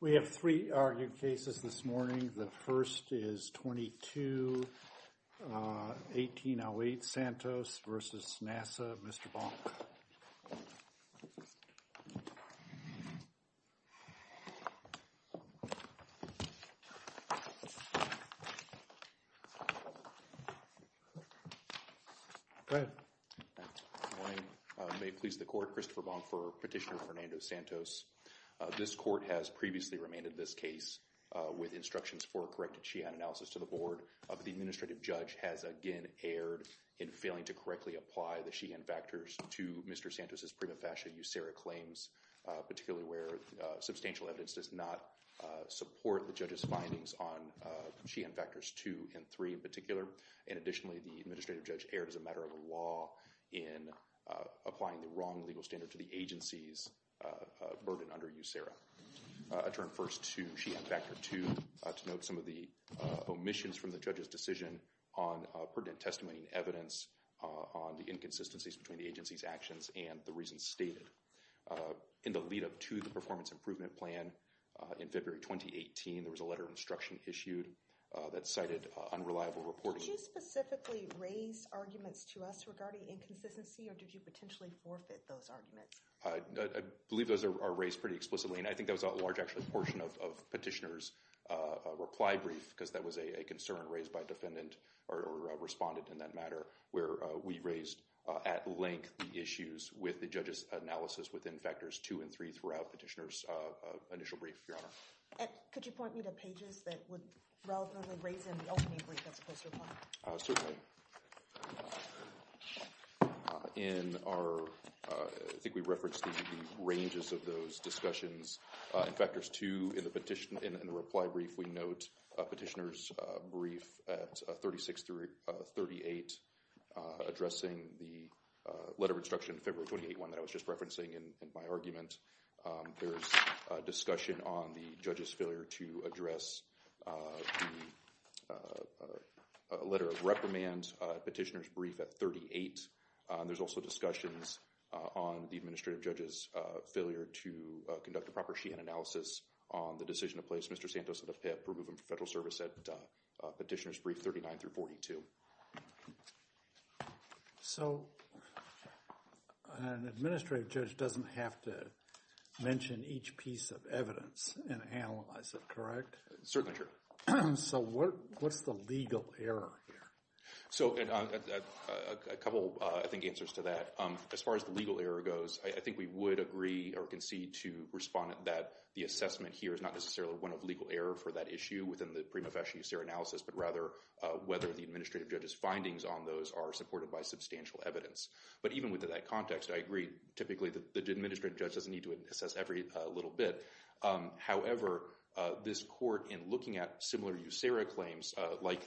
We have three argued cases this morning. The first is 2208 Santos v. NASA. Mr. Bonk. Go ahead. Good morning. May it please the court. Christopher Bonk for Petitioner Fernando Santos. This court has previously remanded this case with instructions for a corrected Sheehan analysis to the board. The administrative judge has again erred in failing to correctly apply the Sheehan factors to Mr. Santos' prima facie USERRA claims, particularly where substantial evidence does not support the judge's findings on Sheehan factors two and three in particular. And additionally, the administrative judge erred as a matter of the law in applying the wrong legal standard to the agency's burden under USERRA. I turn first to Sheehan factor two to note some of the omissions from the judge's decision on pertinent testimony and evidence on the inconsistencies between the agency's actions and the reasons stated. In the lead-up to the performance improvement plan in February 2018, there was a letter of instruction issued that cited unreliable reporting. Did you specifically raise arguments to us regarding inconsistency or did you potentially forfeit those arguments? I believe those are raised pretty explicitly and I think that was a large actual portion of Petitioner's reply brief because that was a concern raised by a defendant or a respondent in that matter where we raised at length the issues with the judge's analysis within factors two and three throughout Petitioner's initial brief, Your Honor. Could you point me to pages that would raise in the ultimate brief as opposed to reply? Certainly. In our, I think we referenced the ranges of those discussions. In factors two in the petition, in the reply brief, we note a Petitioner's brief at 36 through 38 addressing the letter of instruction February 28 one that I was just referencing in my argument. There's a discussion on the judge's failure to address the letter of reprimand Petitioner's brief at 38. There's also discussions on the administrative judge's failure to conduct a proper sheet and analysis on the decision to place Mr. Santos at a PIP removing federal service at Petitioner's brief 39 through 42. So, an administrative judge doesn't have to mention each piece of evidence and analyze it, correct? Certainly, Your Honor. So, what's the legal error here? So, a couple, I think, answers to that. As far as the legal error goes, I think we would agree or concede to respondent that the assessment here is not necessarily one of legal error for that issue within the prima facie analysis, but rather whether the administrative judge's findings on those are supported by substantial evidence. But even within that context, I agree typically that the administrative judge doesn't need to assess every little bit. However, this court in looking at similar USERRA claims like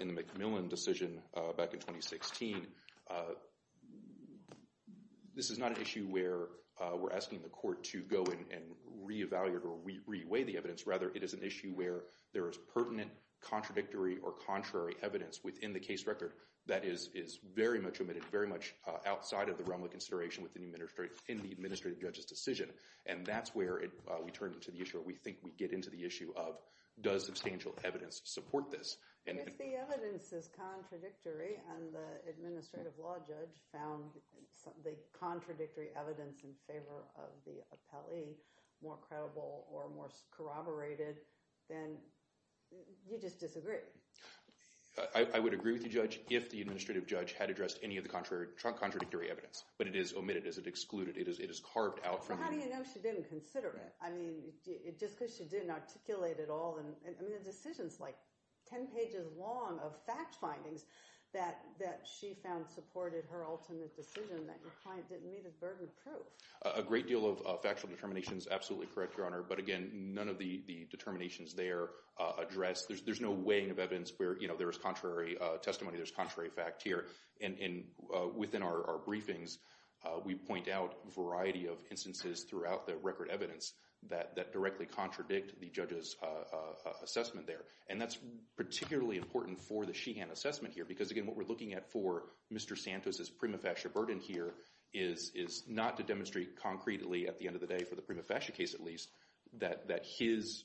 in the McMillan decision back in 2016, this is not an issue where we're asking the court to re-evaluate or re-weigh the evidence. Rather, it is an issue where there is pertinent, contradictory, or contrary evidence within the case record that is very much omitted, very much outside of the realm of consideration within the administrative judge's decision. And that's where we turn to the issue or we think we get into the issue of, does substantial evidence support this? If the evidence is contradictory and the more credible or more corroborated, then you just disagree. I would agree with you, Judge, if the administrative judge had addressed any of the contradictory evidence, but it is omitted, it is excluded, it is carved out from the- But how do you know she didn't consider it? I mean, just because she didn't articulate it all, and the decision's like 10 pages long of fact findings that she found supported her ultimate decision that your client didn't need a burden of proof. A great deal of factual determination is absolutely correct, Your Honor, but again, none of the determinations there address, there's no weighing of evidence where there is contrary testimony, there's contrary fact here. And within our briefings, we point out a variety of instances throughout the record evidence that directly contradict the judge's assessment there. And that's particularly important for the Sheehan assessment here, because again, what we're looking at for Mr. Santos' prima facie burden here is not to demonstrate concretely at the end of the day, for the prima facie case at least, that his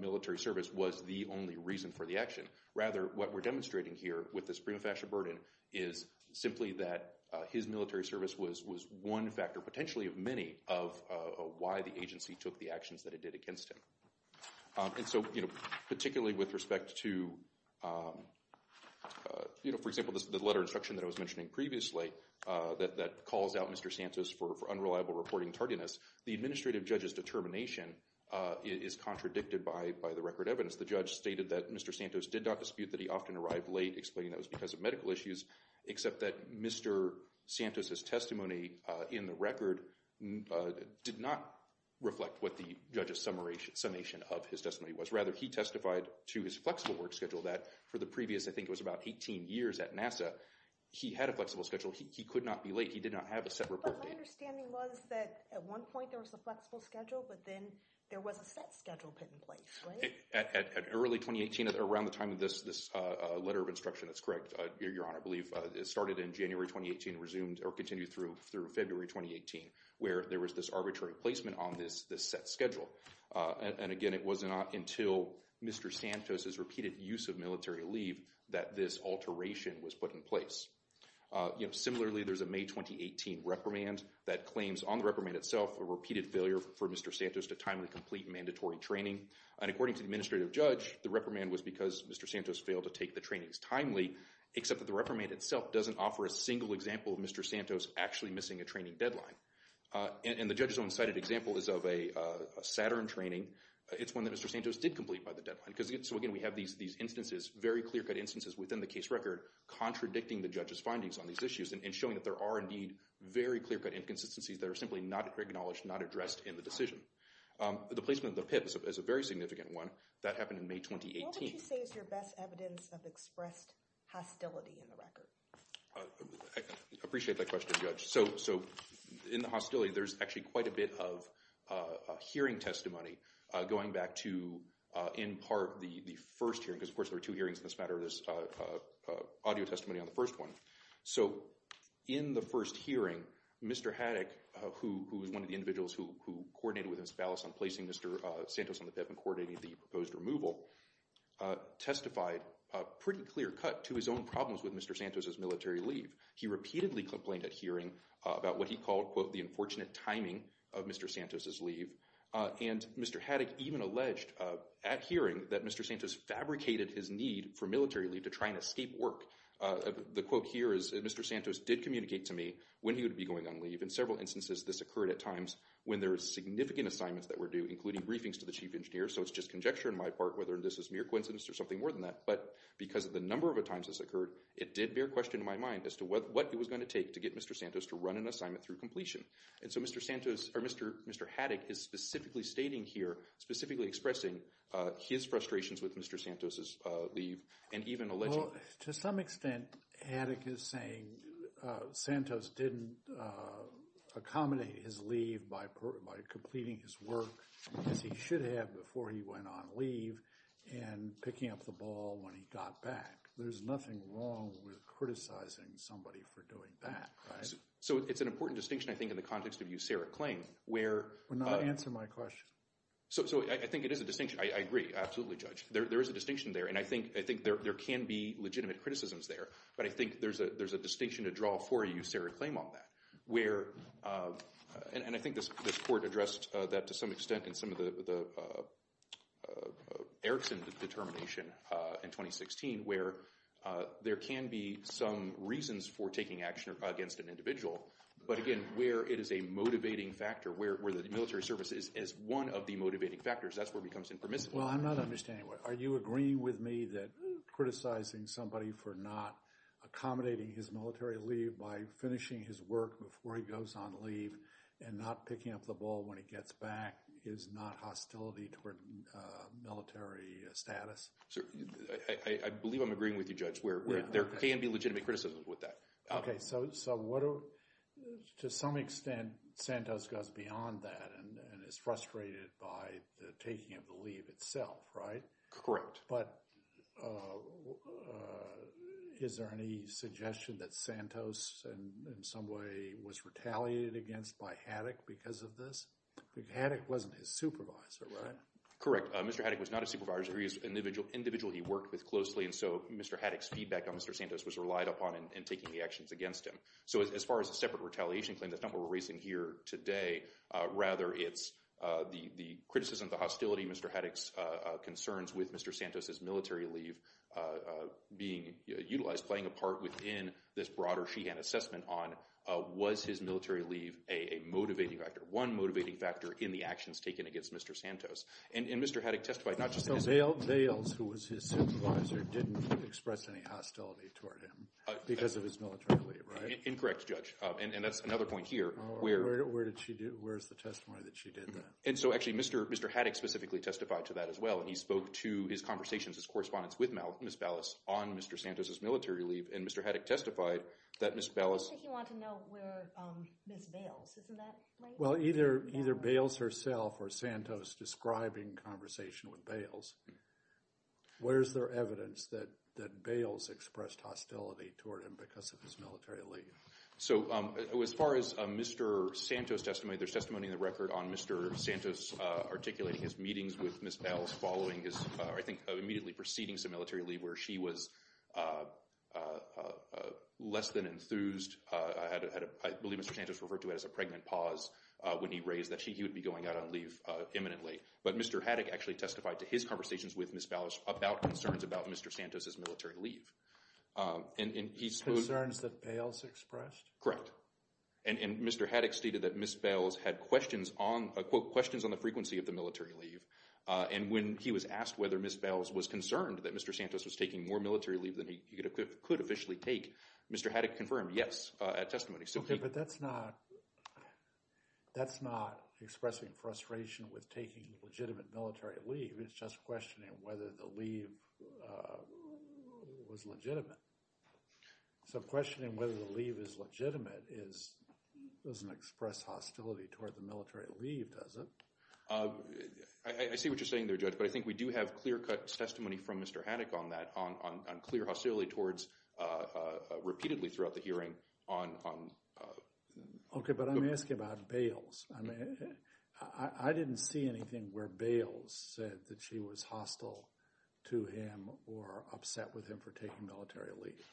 military service was the only reason for the action. Rather, what we're demonstrating here with this prima facie burden is simply that his military service was one factor, potentially of many, of why the agency took the actions that it did against him. And so, you know, particularly with respect to, you know, for example, this letter of instruction that I was mentioning previously that calls out Mr. Santos for unreliable reporting tardiness, the administrative judge's determination is contradicted by the record evidence. The judge stated that Mr. Santos did not dispute that he often arrived late, explaining that was because of medical issues, except that Mr. Santos' testimony in the record did not reflect what the judge's summation of his testimony was. Rather, he testified to his flexible work schedule that for the previous, I think it was about 18 years at NASA, he had a flexible schedule. He could not be late. He did not have a set report date. But my understanding was that at one point there was a flexible schedule, but then there was a set schedule put in place, right? At early 2018, around the time of this letter of instruction, that's correct, Your Honor, I believe it started in January 2018 and resumed or continued through February 2018, where there was this arbitrary placement on this set schedule. And again, it was not until Mr. Santos' repeated use of military leave that this alteration was put in place. Similarly, there's a May 2018 reprimand that claims on the reprimand itself a repeated failure for Mr. Santos to timely complete mandatory training. And according to the administrative judge, the reprimand was because Mr. Santos failed to take the trainings timely, except that the reprimand itself doesn't offer a single example of Mr. Santos actually missing a training deadline. And the judge's own cited example is of a Saturn training. It's one that Mr. Santos did complete by the deadline. So again, we have these instances, very clear-cut instances within the case record contradicting the judge's findings on these issues and showing that there are indeed very clear-cut inconsistencies that are simply not acknowledged, not addressed in the decision. The placement of the PIPs is a very significant one. That happened in May 2018. What would you say is your best evidence of expressed hostility in the record? I appreciate that question, Judge. So in the hostility, there's actually quite a bit of hearing testimony going back to, in part, the first hearing. Because of course, there are two hearings in this matter. There's audio testimony on the first one. So in the first hearing, Mr. Haddock, who is one of the individuals who coordinated with Ms. Ballas on placing Mr. Santos on the PIP and coordinating the proposed removal, testified pretty clear-cut to his own problems with Mr. Santos' military leave. He repeatedly complained at hearing about what he called, quote, the unfortunate timing of Mr. Santos' leave. And Mr. Haddock even alleged at hearing that Mr. Santos fabricated his need for military leave to try and escape work. The quote here is, Mr. Santos did communicate to me when he would be going on leave. In several instances, this occurred at times when there were significant assignments that were due, including briefings to the chief engineer. So it's just conjecture on my part whether this is mere coincidence or something more than that. But because of the number of times this occurred, it did bear question in my mind as to what it was going to take to get Mr. Santos to run an assignment through completion. And so Mr. Santos, or Mr. Haddock, is specifically stating here, specifically expressing his frustrations with Mr. Santos' leave and even alleging— Well, to some extent, Haddock is saying Santos didn't accommodate his leave by completing his work as he should have before he went on leave and picking up the ball when he got back. There's nothing wrong with criticizing somebody for doing that, right? So it's an important distinction, I think, in the context of usuric claim, where— Well, now answer my question. So I think it is a distinction. I agree. Absolutely, Judge. There is a distinction there. And I think there can be legitimate criticisms there. But I think there's a distinction to draw for a usuric claim on that, where— And I think this court addressed that to some extent in some of the Erickson determination in 2016, where there can be some reasons for taking action against an individual. But again, where it is a motivating factor, where the military service is one of the motivating factors, that's where it becomes impermissible. Well, I'm not understanding. Are you agreeing with me that criticizing somebody for not accommodating his military leave by finishing his work before he goes on leave and not picking up the ball when he gets back is not hostility toward military status? I believe I'm agreeing with you, Judge, where there can be legitimate criticisms with that. Okay. So to some extent, Santos goes beyond that and is frustrated by the taking of the leave itself, right? Correct. But is there any suggestion that Santos in some way was retaliated against by Haddock because of this? Haddock wasn't his supervisor, right? Correct. Mr. Haddock was not a supervisor. He was an individual he worked with closely. And so Mr. Haddock's feedback on Mr. Santos was relied upon in taking the actions against him. So as far as a separate retaliation claim, that's not what we're raising here today. Rather, the criticism, the hostility, Mr. Haddock's concerns with Mr. Santos' military leave being utilized, playing a part within this broader Sheehan assessment on was his military leave a motivating factor, one motivating factor in the actions taken against Mr. Santos. And Mr. Haddock testified not just— So Dales, who was his supervisor, didn't express any hostility toward him because of his military leave, right? Incorrect, Judge. And that's another point here. Where did she do? Where's the testimony that she did that? And so actually, Mr. Haddock specifically testified to that as well. And he spoke to his conversations, his correspondence with Ms. Ballas on Mr. Santos' military leave. And Mr. Haddock testified that Ms. Ballas— He said he wanted to know where Ms. Bales, isn't that right? Well, either Bales herself or Santos describing conversation with Bales. Where's their evidence that Bales expressed hostility toward him because of his military leave? So as far as Mr. Santos' testimony, there's testimony in the record on Mr. Santos articulating his meetings with Ms. Bales following his— I think immediately preceding his military leave where she was less than enthused. I believe Mr. Santos referred to it as a pregnant pause when he raised that he would be going out on leave imminently. But Mr. Haddock actually testified to his conversations with Ms. Ballas about concerns Mr. Santos' military leave. Concerns that Bales expressed? Correct. And Mr. Haddock stated that Ms. Bales had questions on the frequency of the military leave. And when he was asked whether Ms. Bales was concerned that Mr. Santos was taking more military leave than he could officially take, Mr. Haddock confirmed yes at testimony. Okay, but that's not expressing frustration with taking legitimate military leave. It's questioning whether the leave was legitimate. So questioning whether the leave is legitimate doesn't express hostility toward the military leave, does it? I see what you're saying there, Judge, but I think we do have clear-cut testimony from Mr. Haddock on that, on clear hostility towards—repeatedly throughout the hearing on— Okay, but I'm asking about Bales. I didn't see anything where Bales said that she was hostile to him or upset with him for taking military leave.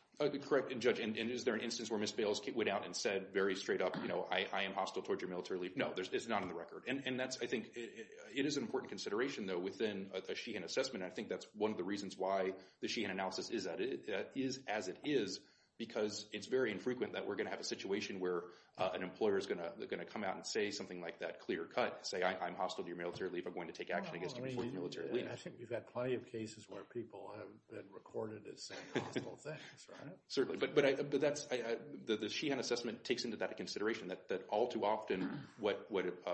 Correct, Judge. And is there an instance where Ms. Bales went out and said very straight up, you know, I am hostile toward your military leave? No, it's not on the record. And that's, I think, it is an important consideration, though, within a Sheehan assessment. I think that's one of the reasons why the Sheehan analysis is as it is because it's very infrequent that we're going to have a situation where an employer is going to come out and say something like that clear-cut, say I'm hostile to your military leave. I'm going to take action against you before the military leave. I think you've got plenty of cases where people have been recorded as saying hostile things, right? Certainly, but that's—the Sheehan assessment takes into that consideration that all too often what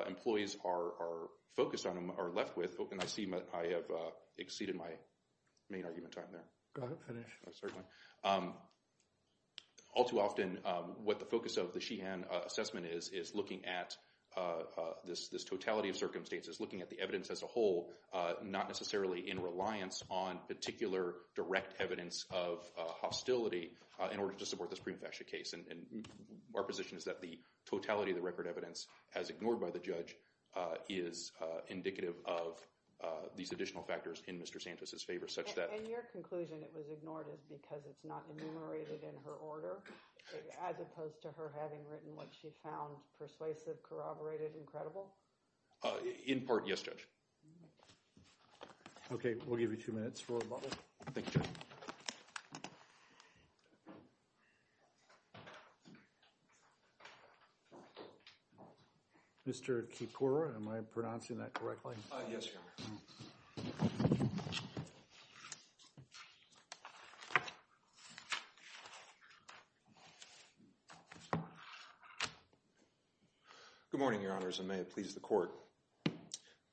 employees are focused on are left with—and I see I have exceeded my main argument time there. Go ahead, finish. Certainly. All too often what the focus of the Sheehan assessment is is looking at this totality of circumstances, looking at the evidence as a whole, not necessarily in reliance on particular direct evidence of hostility in order to support the Supreme Faction case. And our position is that the totality of the record evidence, as ignored by the judge, is indicative of these additional factors in Mr. Santos' favor such that— In your conclusion it was ignored is because it's not enumerated in her order, as opposed to her having written what she found persuasive, corroborated, incredible? In part, yes, Judge. Okay, we'll give you two minutes for a bubble. Thank you, Judge. Mr. Kipura, am I pronouncing that correctly? Yes, Your Honor. Good morning, Your Honors, and may it please the Court.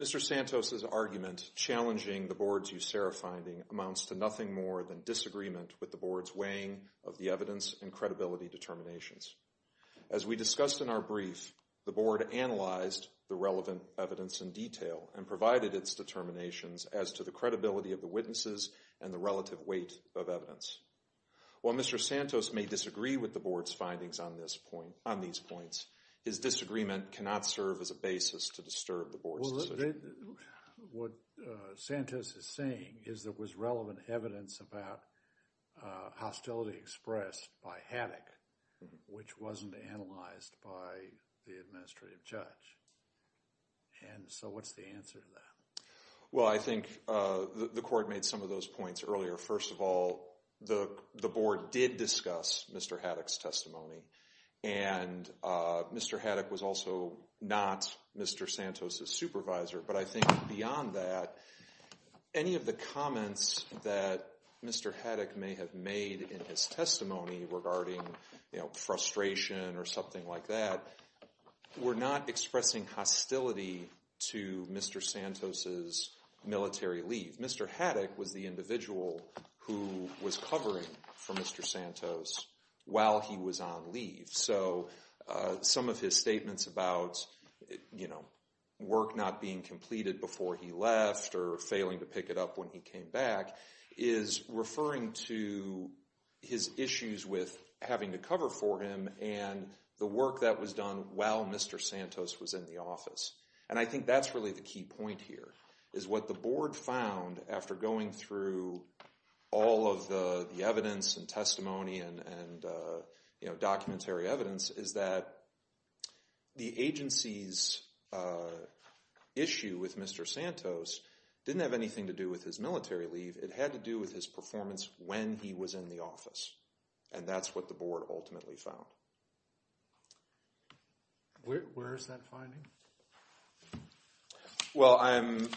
Mr. Santos' argument challenging the Board's USERRA finding amounts to nothing more than disagreement with the Board's weighing of the evidence and credibility determinations. As we discussed in our brief, the Board analyzed the relevant evidence in detail and provided its determinations as to the credibility of the relative weight of evidence. While Mr. Santos may disagree with the Board's findings on these points, his disagreement cannot serve as a basis to disturb the Board's decision. What Santos is saying is there was relevant evidence about hostility expressed by Haddock, which wasn't analyzed by the administrative judge. And so what's the answer to that? Well, I think the Court made some of those points earlier. First of all, the Board did discuss Mr. Haddock's testimony, and Mr. Haddock was also not Mr. Santos' supervisor. But I think beyond that, any of the comments that Mr. Haddock may have made in his testimony regarding, you know, frustration or something like that, were not expressing hostility to Mr. Santos' military leave. Mr. Haddock was the individual who was covering for Mr. Santos while he was on leave. So some of his statements about, you know, work not being completed before he left or failing to pick it up when he came back, is referring to his issues with having to cover for him and the work that was done while Mr. Santos was in the office. And I think that's really the key point here, is what the Board found after going through all of the evidence and testimony and, you know, documentary evidence, is that the agency's issue with Mr. Santos didn't have anything to do with his military leave. It had to do with his performance when he was in the office. And that's what the Board ultimately found. Where is that finding? Well, I'm...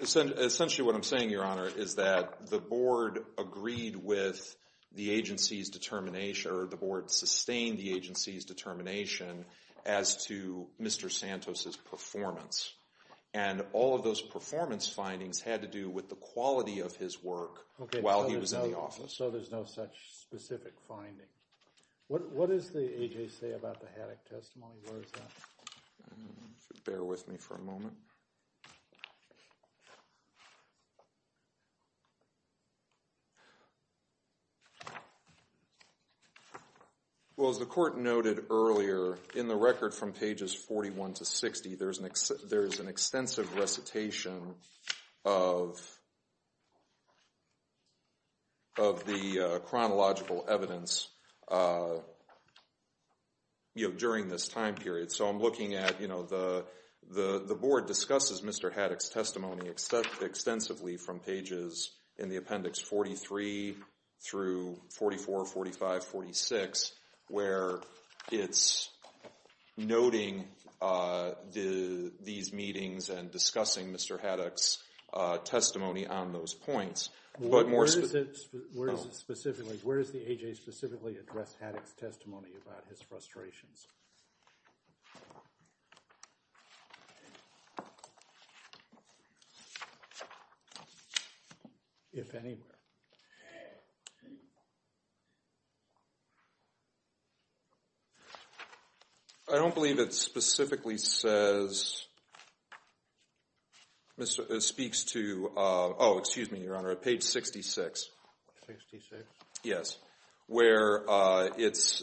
Essentially what I'm saying, Your Honor, is that the Board agreed with the agency's determination or the Board sustained the agency's determination as to Mr. Santos' performance. And all of those performance findings had to do with the quality of his work while he was in the office. Okay, so there's no such specific finding. What does the agency say about the Haddock testimony? Where is that? Bear with me for a moment. Well, as the Court noted earlier, in the record from pages 41 to 60, there's an extensive recitation of the chronological evidence, you know, during this time period. So I'm looking at, you know, the Board discusses Mr. Haddock's testimony extensively from pages in the Appendix 43 through 44, 45, 46, where it's noting these meetings and discussing Mr. Haddock's testimony on those points. But more specifically... Where does it specifically... Where does the A.J. specifically address Haddock's testimony about his frustrations, if anywhere? I don't believe it specifically says... Speaks to... Oh, excuse me, Your Honor, page 66. 66? Yes, where it's...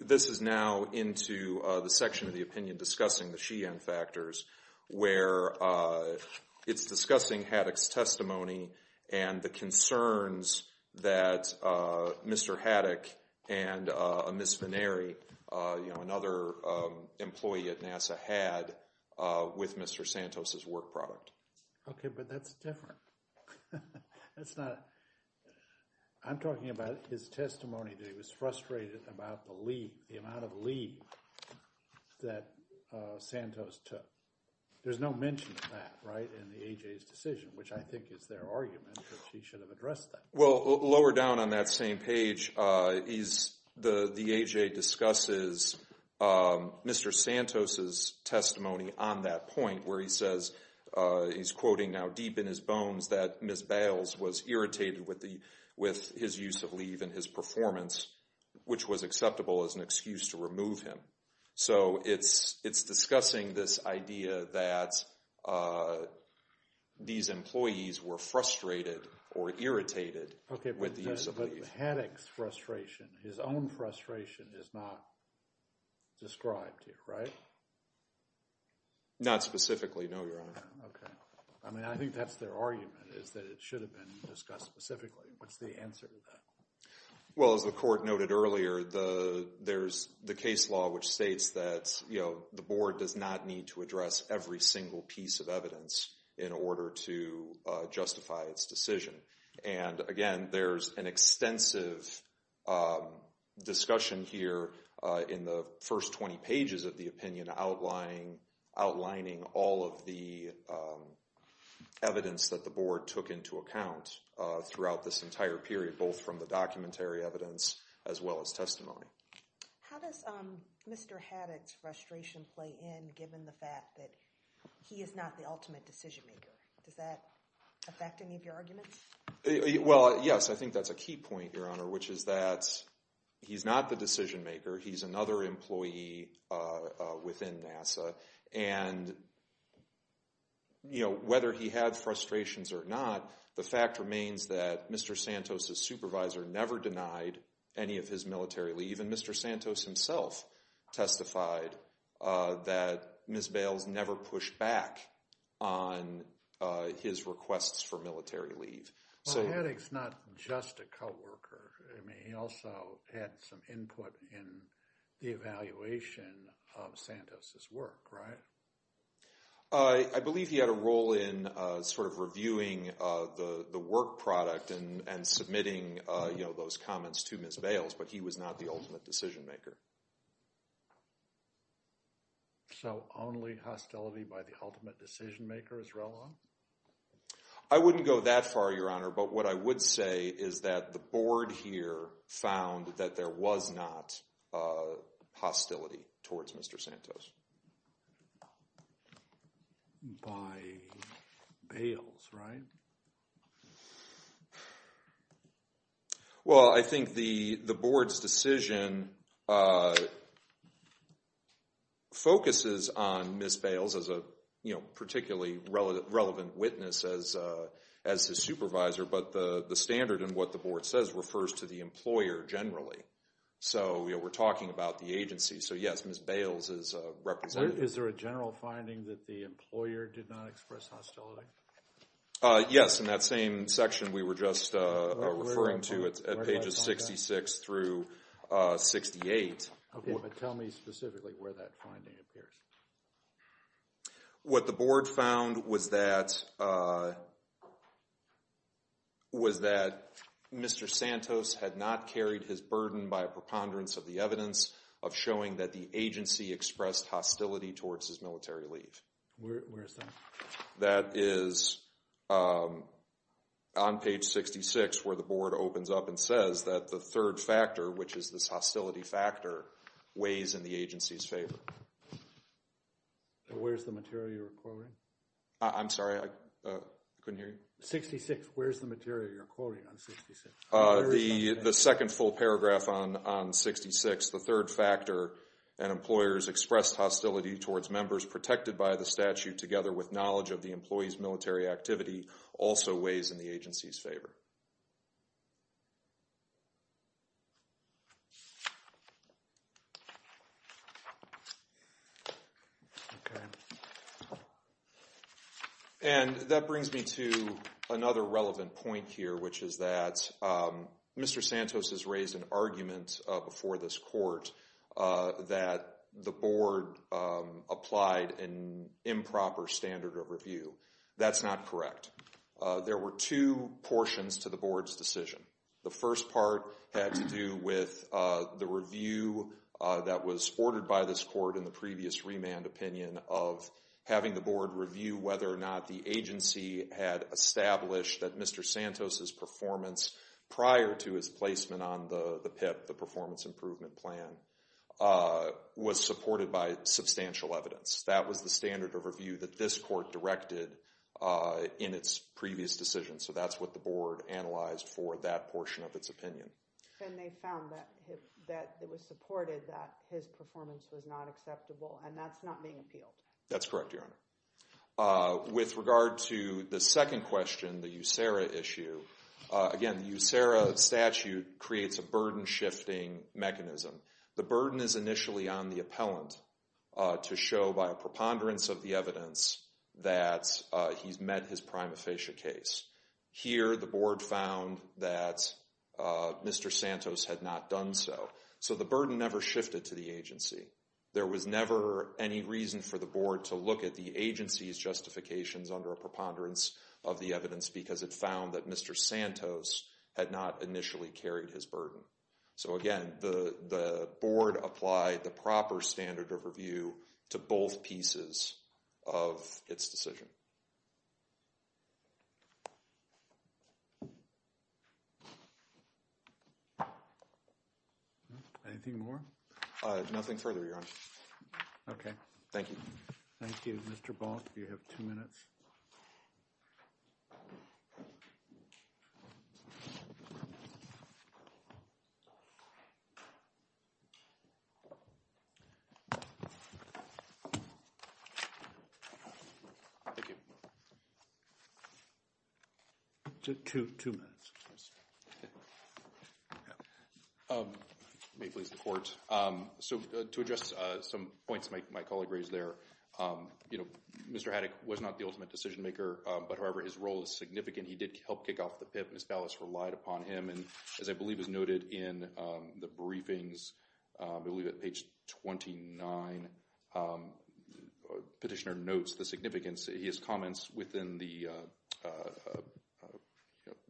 This is now into the section of the opinion discussing the Sheehan factors, where it's discussing Haddock's testimony and the concerns that Mr. Haddock and Ms. Fineri, you know, another employee at NASA, had with Mr. Santos's work product. Okay, but that's different. That's not... I'm talking about his testimony that he was frustrated about the leave, the amount of leave that Santos took. There's no mention of that, right, in the A.J.'s decision, which I think is their argument that he should have addressed that. Well, lower down on that same page, the A.J. discusses Mr. Santos's testimony on that point, where he says... He's quoting now deep in his bones that Ms. Bales was irritated with his use of leave and his performance, which was acceptable as an excuse to remove him. So, it's discussing this idea that these employees were frustrated or irritated with the use of leave. Haddock's frustration, his own frustration is not described here, right? Not specifically, no, Your Honor. Okay. I mean, I think that's their argument, is that it should have been discussed specifically. What's the answer to that? Well, as the court noted earlier, there's the case law which states that, you know, the board does not need to address every single piece of evidence in order to justify its decision. And again, there's an extensive discussion here in the first 20 pages of the opinion outlining all of the evidence that the board took into account throughout this entire period, both from the documentary evidence as well as testimony. How does Mr. Haddock's frustration play in, given the fact that he is not the ultimate decision maker? Does that affect any of your arguments? Well, yes. I think that's a key point, Your Honor, which is that he's not the decision maker. He's another employee within NASA. And, you know, whether he had frustrations or not, the fact remains that Mr. Santos' supervisor never denied any of his military leave. And Mr. Santos himself testified that Ms. Bales never pushed back on his requests for military leave. Well, Haddock's not just a co-worker. I mean, he also had some input in the evaluation of Santos' work, right? I believe he had a role in sort of reviewing the work product and submitting, you know, those comments to Ms. Bales. But he was not the ultimate decision maker. So only hostility by the ultimate decision maker is relevant? I wouldn't go that far, Your Honor. But what I would say is that the board here found that there was not hostility towards Mr. Santos. By Bales, right? Well, I think the board's decision focuses on Ms. Bales as a, you know, particularly relevant witness as his supervisor. But the standard in what the board says refers to the employer generally. So, you know, we're talking about the agency. So, yes, Ms. Bales is represented. Is there a general finding that the employer did not express hostility? Yes, in that same section we were just referring to at pages 66 through 68. Tell me specifically where that finding appears. What the board found was that Mr. Santos had not carried his burden by a preponderance of the evidence of showing that the agency expressed hostility towards his military leave. Where is that? That is on page 66 where the board opens up and says that the third factor, which is this hostility factor, weighs in the agency's favor. Where's the material you're quoting? I'm sorry, I couldn't hear you. 66, where's the material you're quoting on 66? The second full paragraph on 66, the third factor, and employers expressed hostility towards members protected by the statute together with knowledge of the employee's military activity, also weighs in the agency's favor. And that brings me to another relevant point here, which is that Mr. Santos has raised an argument before this court that the board applied an improper standard of review. That's not correct. There were two portions to the board's decision. The first part had to do with the review that was ordered by this court in the previous remand opinion of having the board review whether or not the agency had established that Mr. Santos, prior to his placement on the PIP, the performance improvement plan, was supported by substantial evidence. That was the standard of review that this court directed in its previous decision. So that's what the board analyzed for that portion of its opinion. And they found that it was supported that his performance was not acceptable, and that's not being appealed. That's correct, Your Honor. With regard to the second question, the USERA issue, again, the USERA statute creates a burden-shifting mechanism. The burden is initially on the appellant to show by a preponderance of the evidence that he's met his prima facie case. Here, the board found that Mr. Santos had not done so. So the burden never shifted to the agency. There was never any reason for the board to look at the agency's justifications under a preponderance of the evidence because it found that Mr. Santos had not initially carried his burden. So again, the board applied the proper standard of review to both pieces of its decision. Anything more? Nothing further, Your Honor. Okay. Thank you. Thank you. Mr. Bonk, you have two minutes. Thank you. Two minutes. May it please the court. So to address some points my colleague raised there, you know, Mr. Haddock was not the ultimate decision maker. But however, his role is significant. He did help kick off the PIP. His ballots relied upon him. And as I believe is noted in the briefings, I believe at page 29, petitioner notes the significance. His comments within the, you know,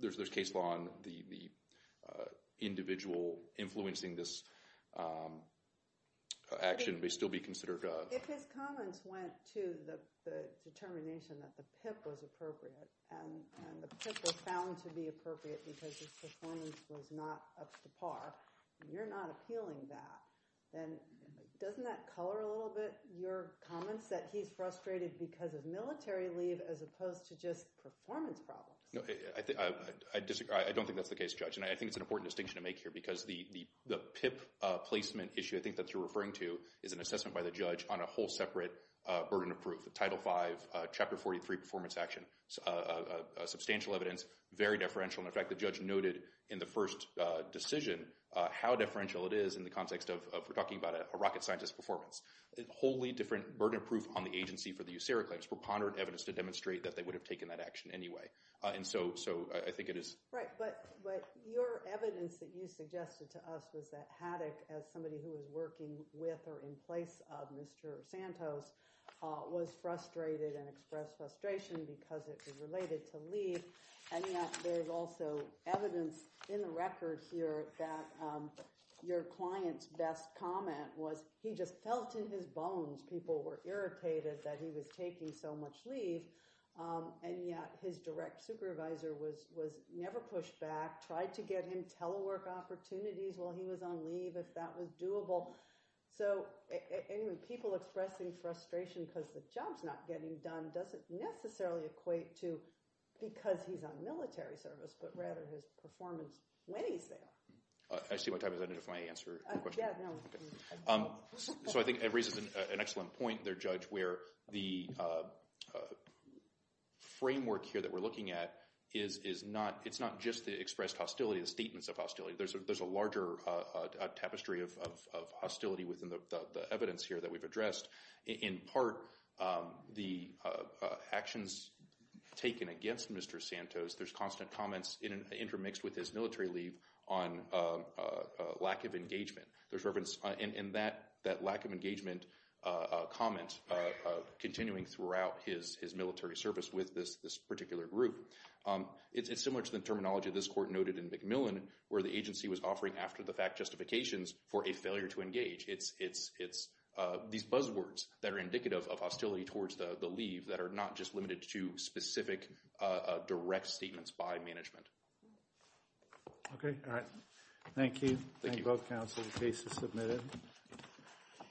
there's case law on the individual influencing this action may still be considered a... If his comments went to the determination that the PIP was appropriate, and the PIP was found to be appropriate because his performance was not up to par, you're not appealing that. Then doesn't that color a little bit your comments that he's frustrated because of military leave as opposed to just performance problems? No, I disagree. I don't think that's the case, Judge. And I think it's an important distinction to make here because the PIP placement issue, I think that you're referring to, is an assessment by the judge on a whole separate burden of proof. The Title V, Chapter 43 performance action, substantial evidence, very deferential. In fact, the judge noted in the first decision how deferential it is in the context of we're talking about a rocket scientist performance. A wholly different burden of proof on the agency for the USARA claims, preponderant evidence to demonstrate that they would have taken that action anyway. And so I think it is... Right. But your evidence that you suggested to us was that Haddock, as somebody who was working with or in place of Mr. Santos, was frustrated and expressed frustration because it was related to leave. And yet there's also evidence in the record here that your client's best comment was he just felt in his bones people were irritated that he was taking so much leave. And yet his direct supervisor was never pushed back, tried to get him telework opportunities while he was on leave if that was doable. So anyway, people expressing frustration because the job's not getting done doesn't necessarily equate to because he's on military service, but rather his performance when he's there. I see what type of... I don't know if my answer... So I think it raises an excellent point there, Judge, where the framework here that we're looking at is not... It's not just the expressed hostility, the statements of hostility. There's a larger tapestry of hostility within the evidence here that we've addressed. In part, the actions taken against Mr. Santos, there's constant comments intermixed with his military leave on lack of engagement. There's reference in that lack of engagement comment continuing throughout his military service with this particular group. It's similar to the terminology of this court noted in McMillan, where the agency was offering after-the-fact justifications for a failure to engage. It's these buzzwords that are indicative of hostility towards the leave that are not just limited to specific direct statements by management. Okay. All right. Thank you. Thank you. Thank you both, counsel. The case is submitted.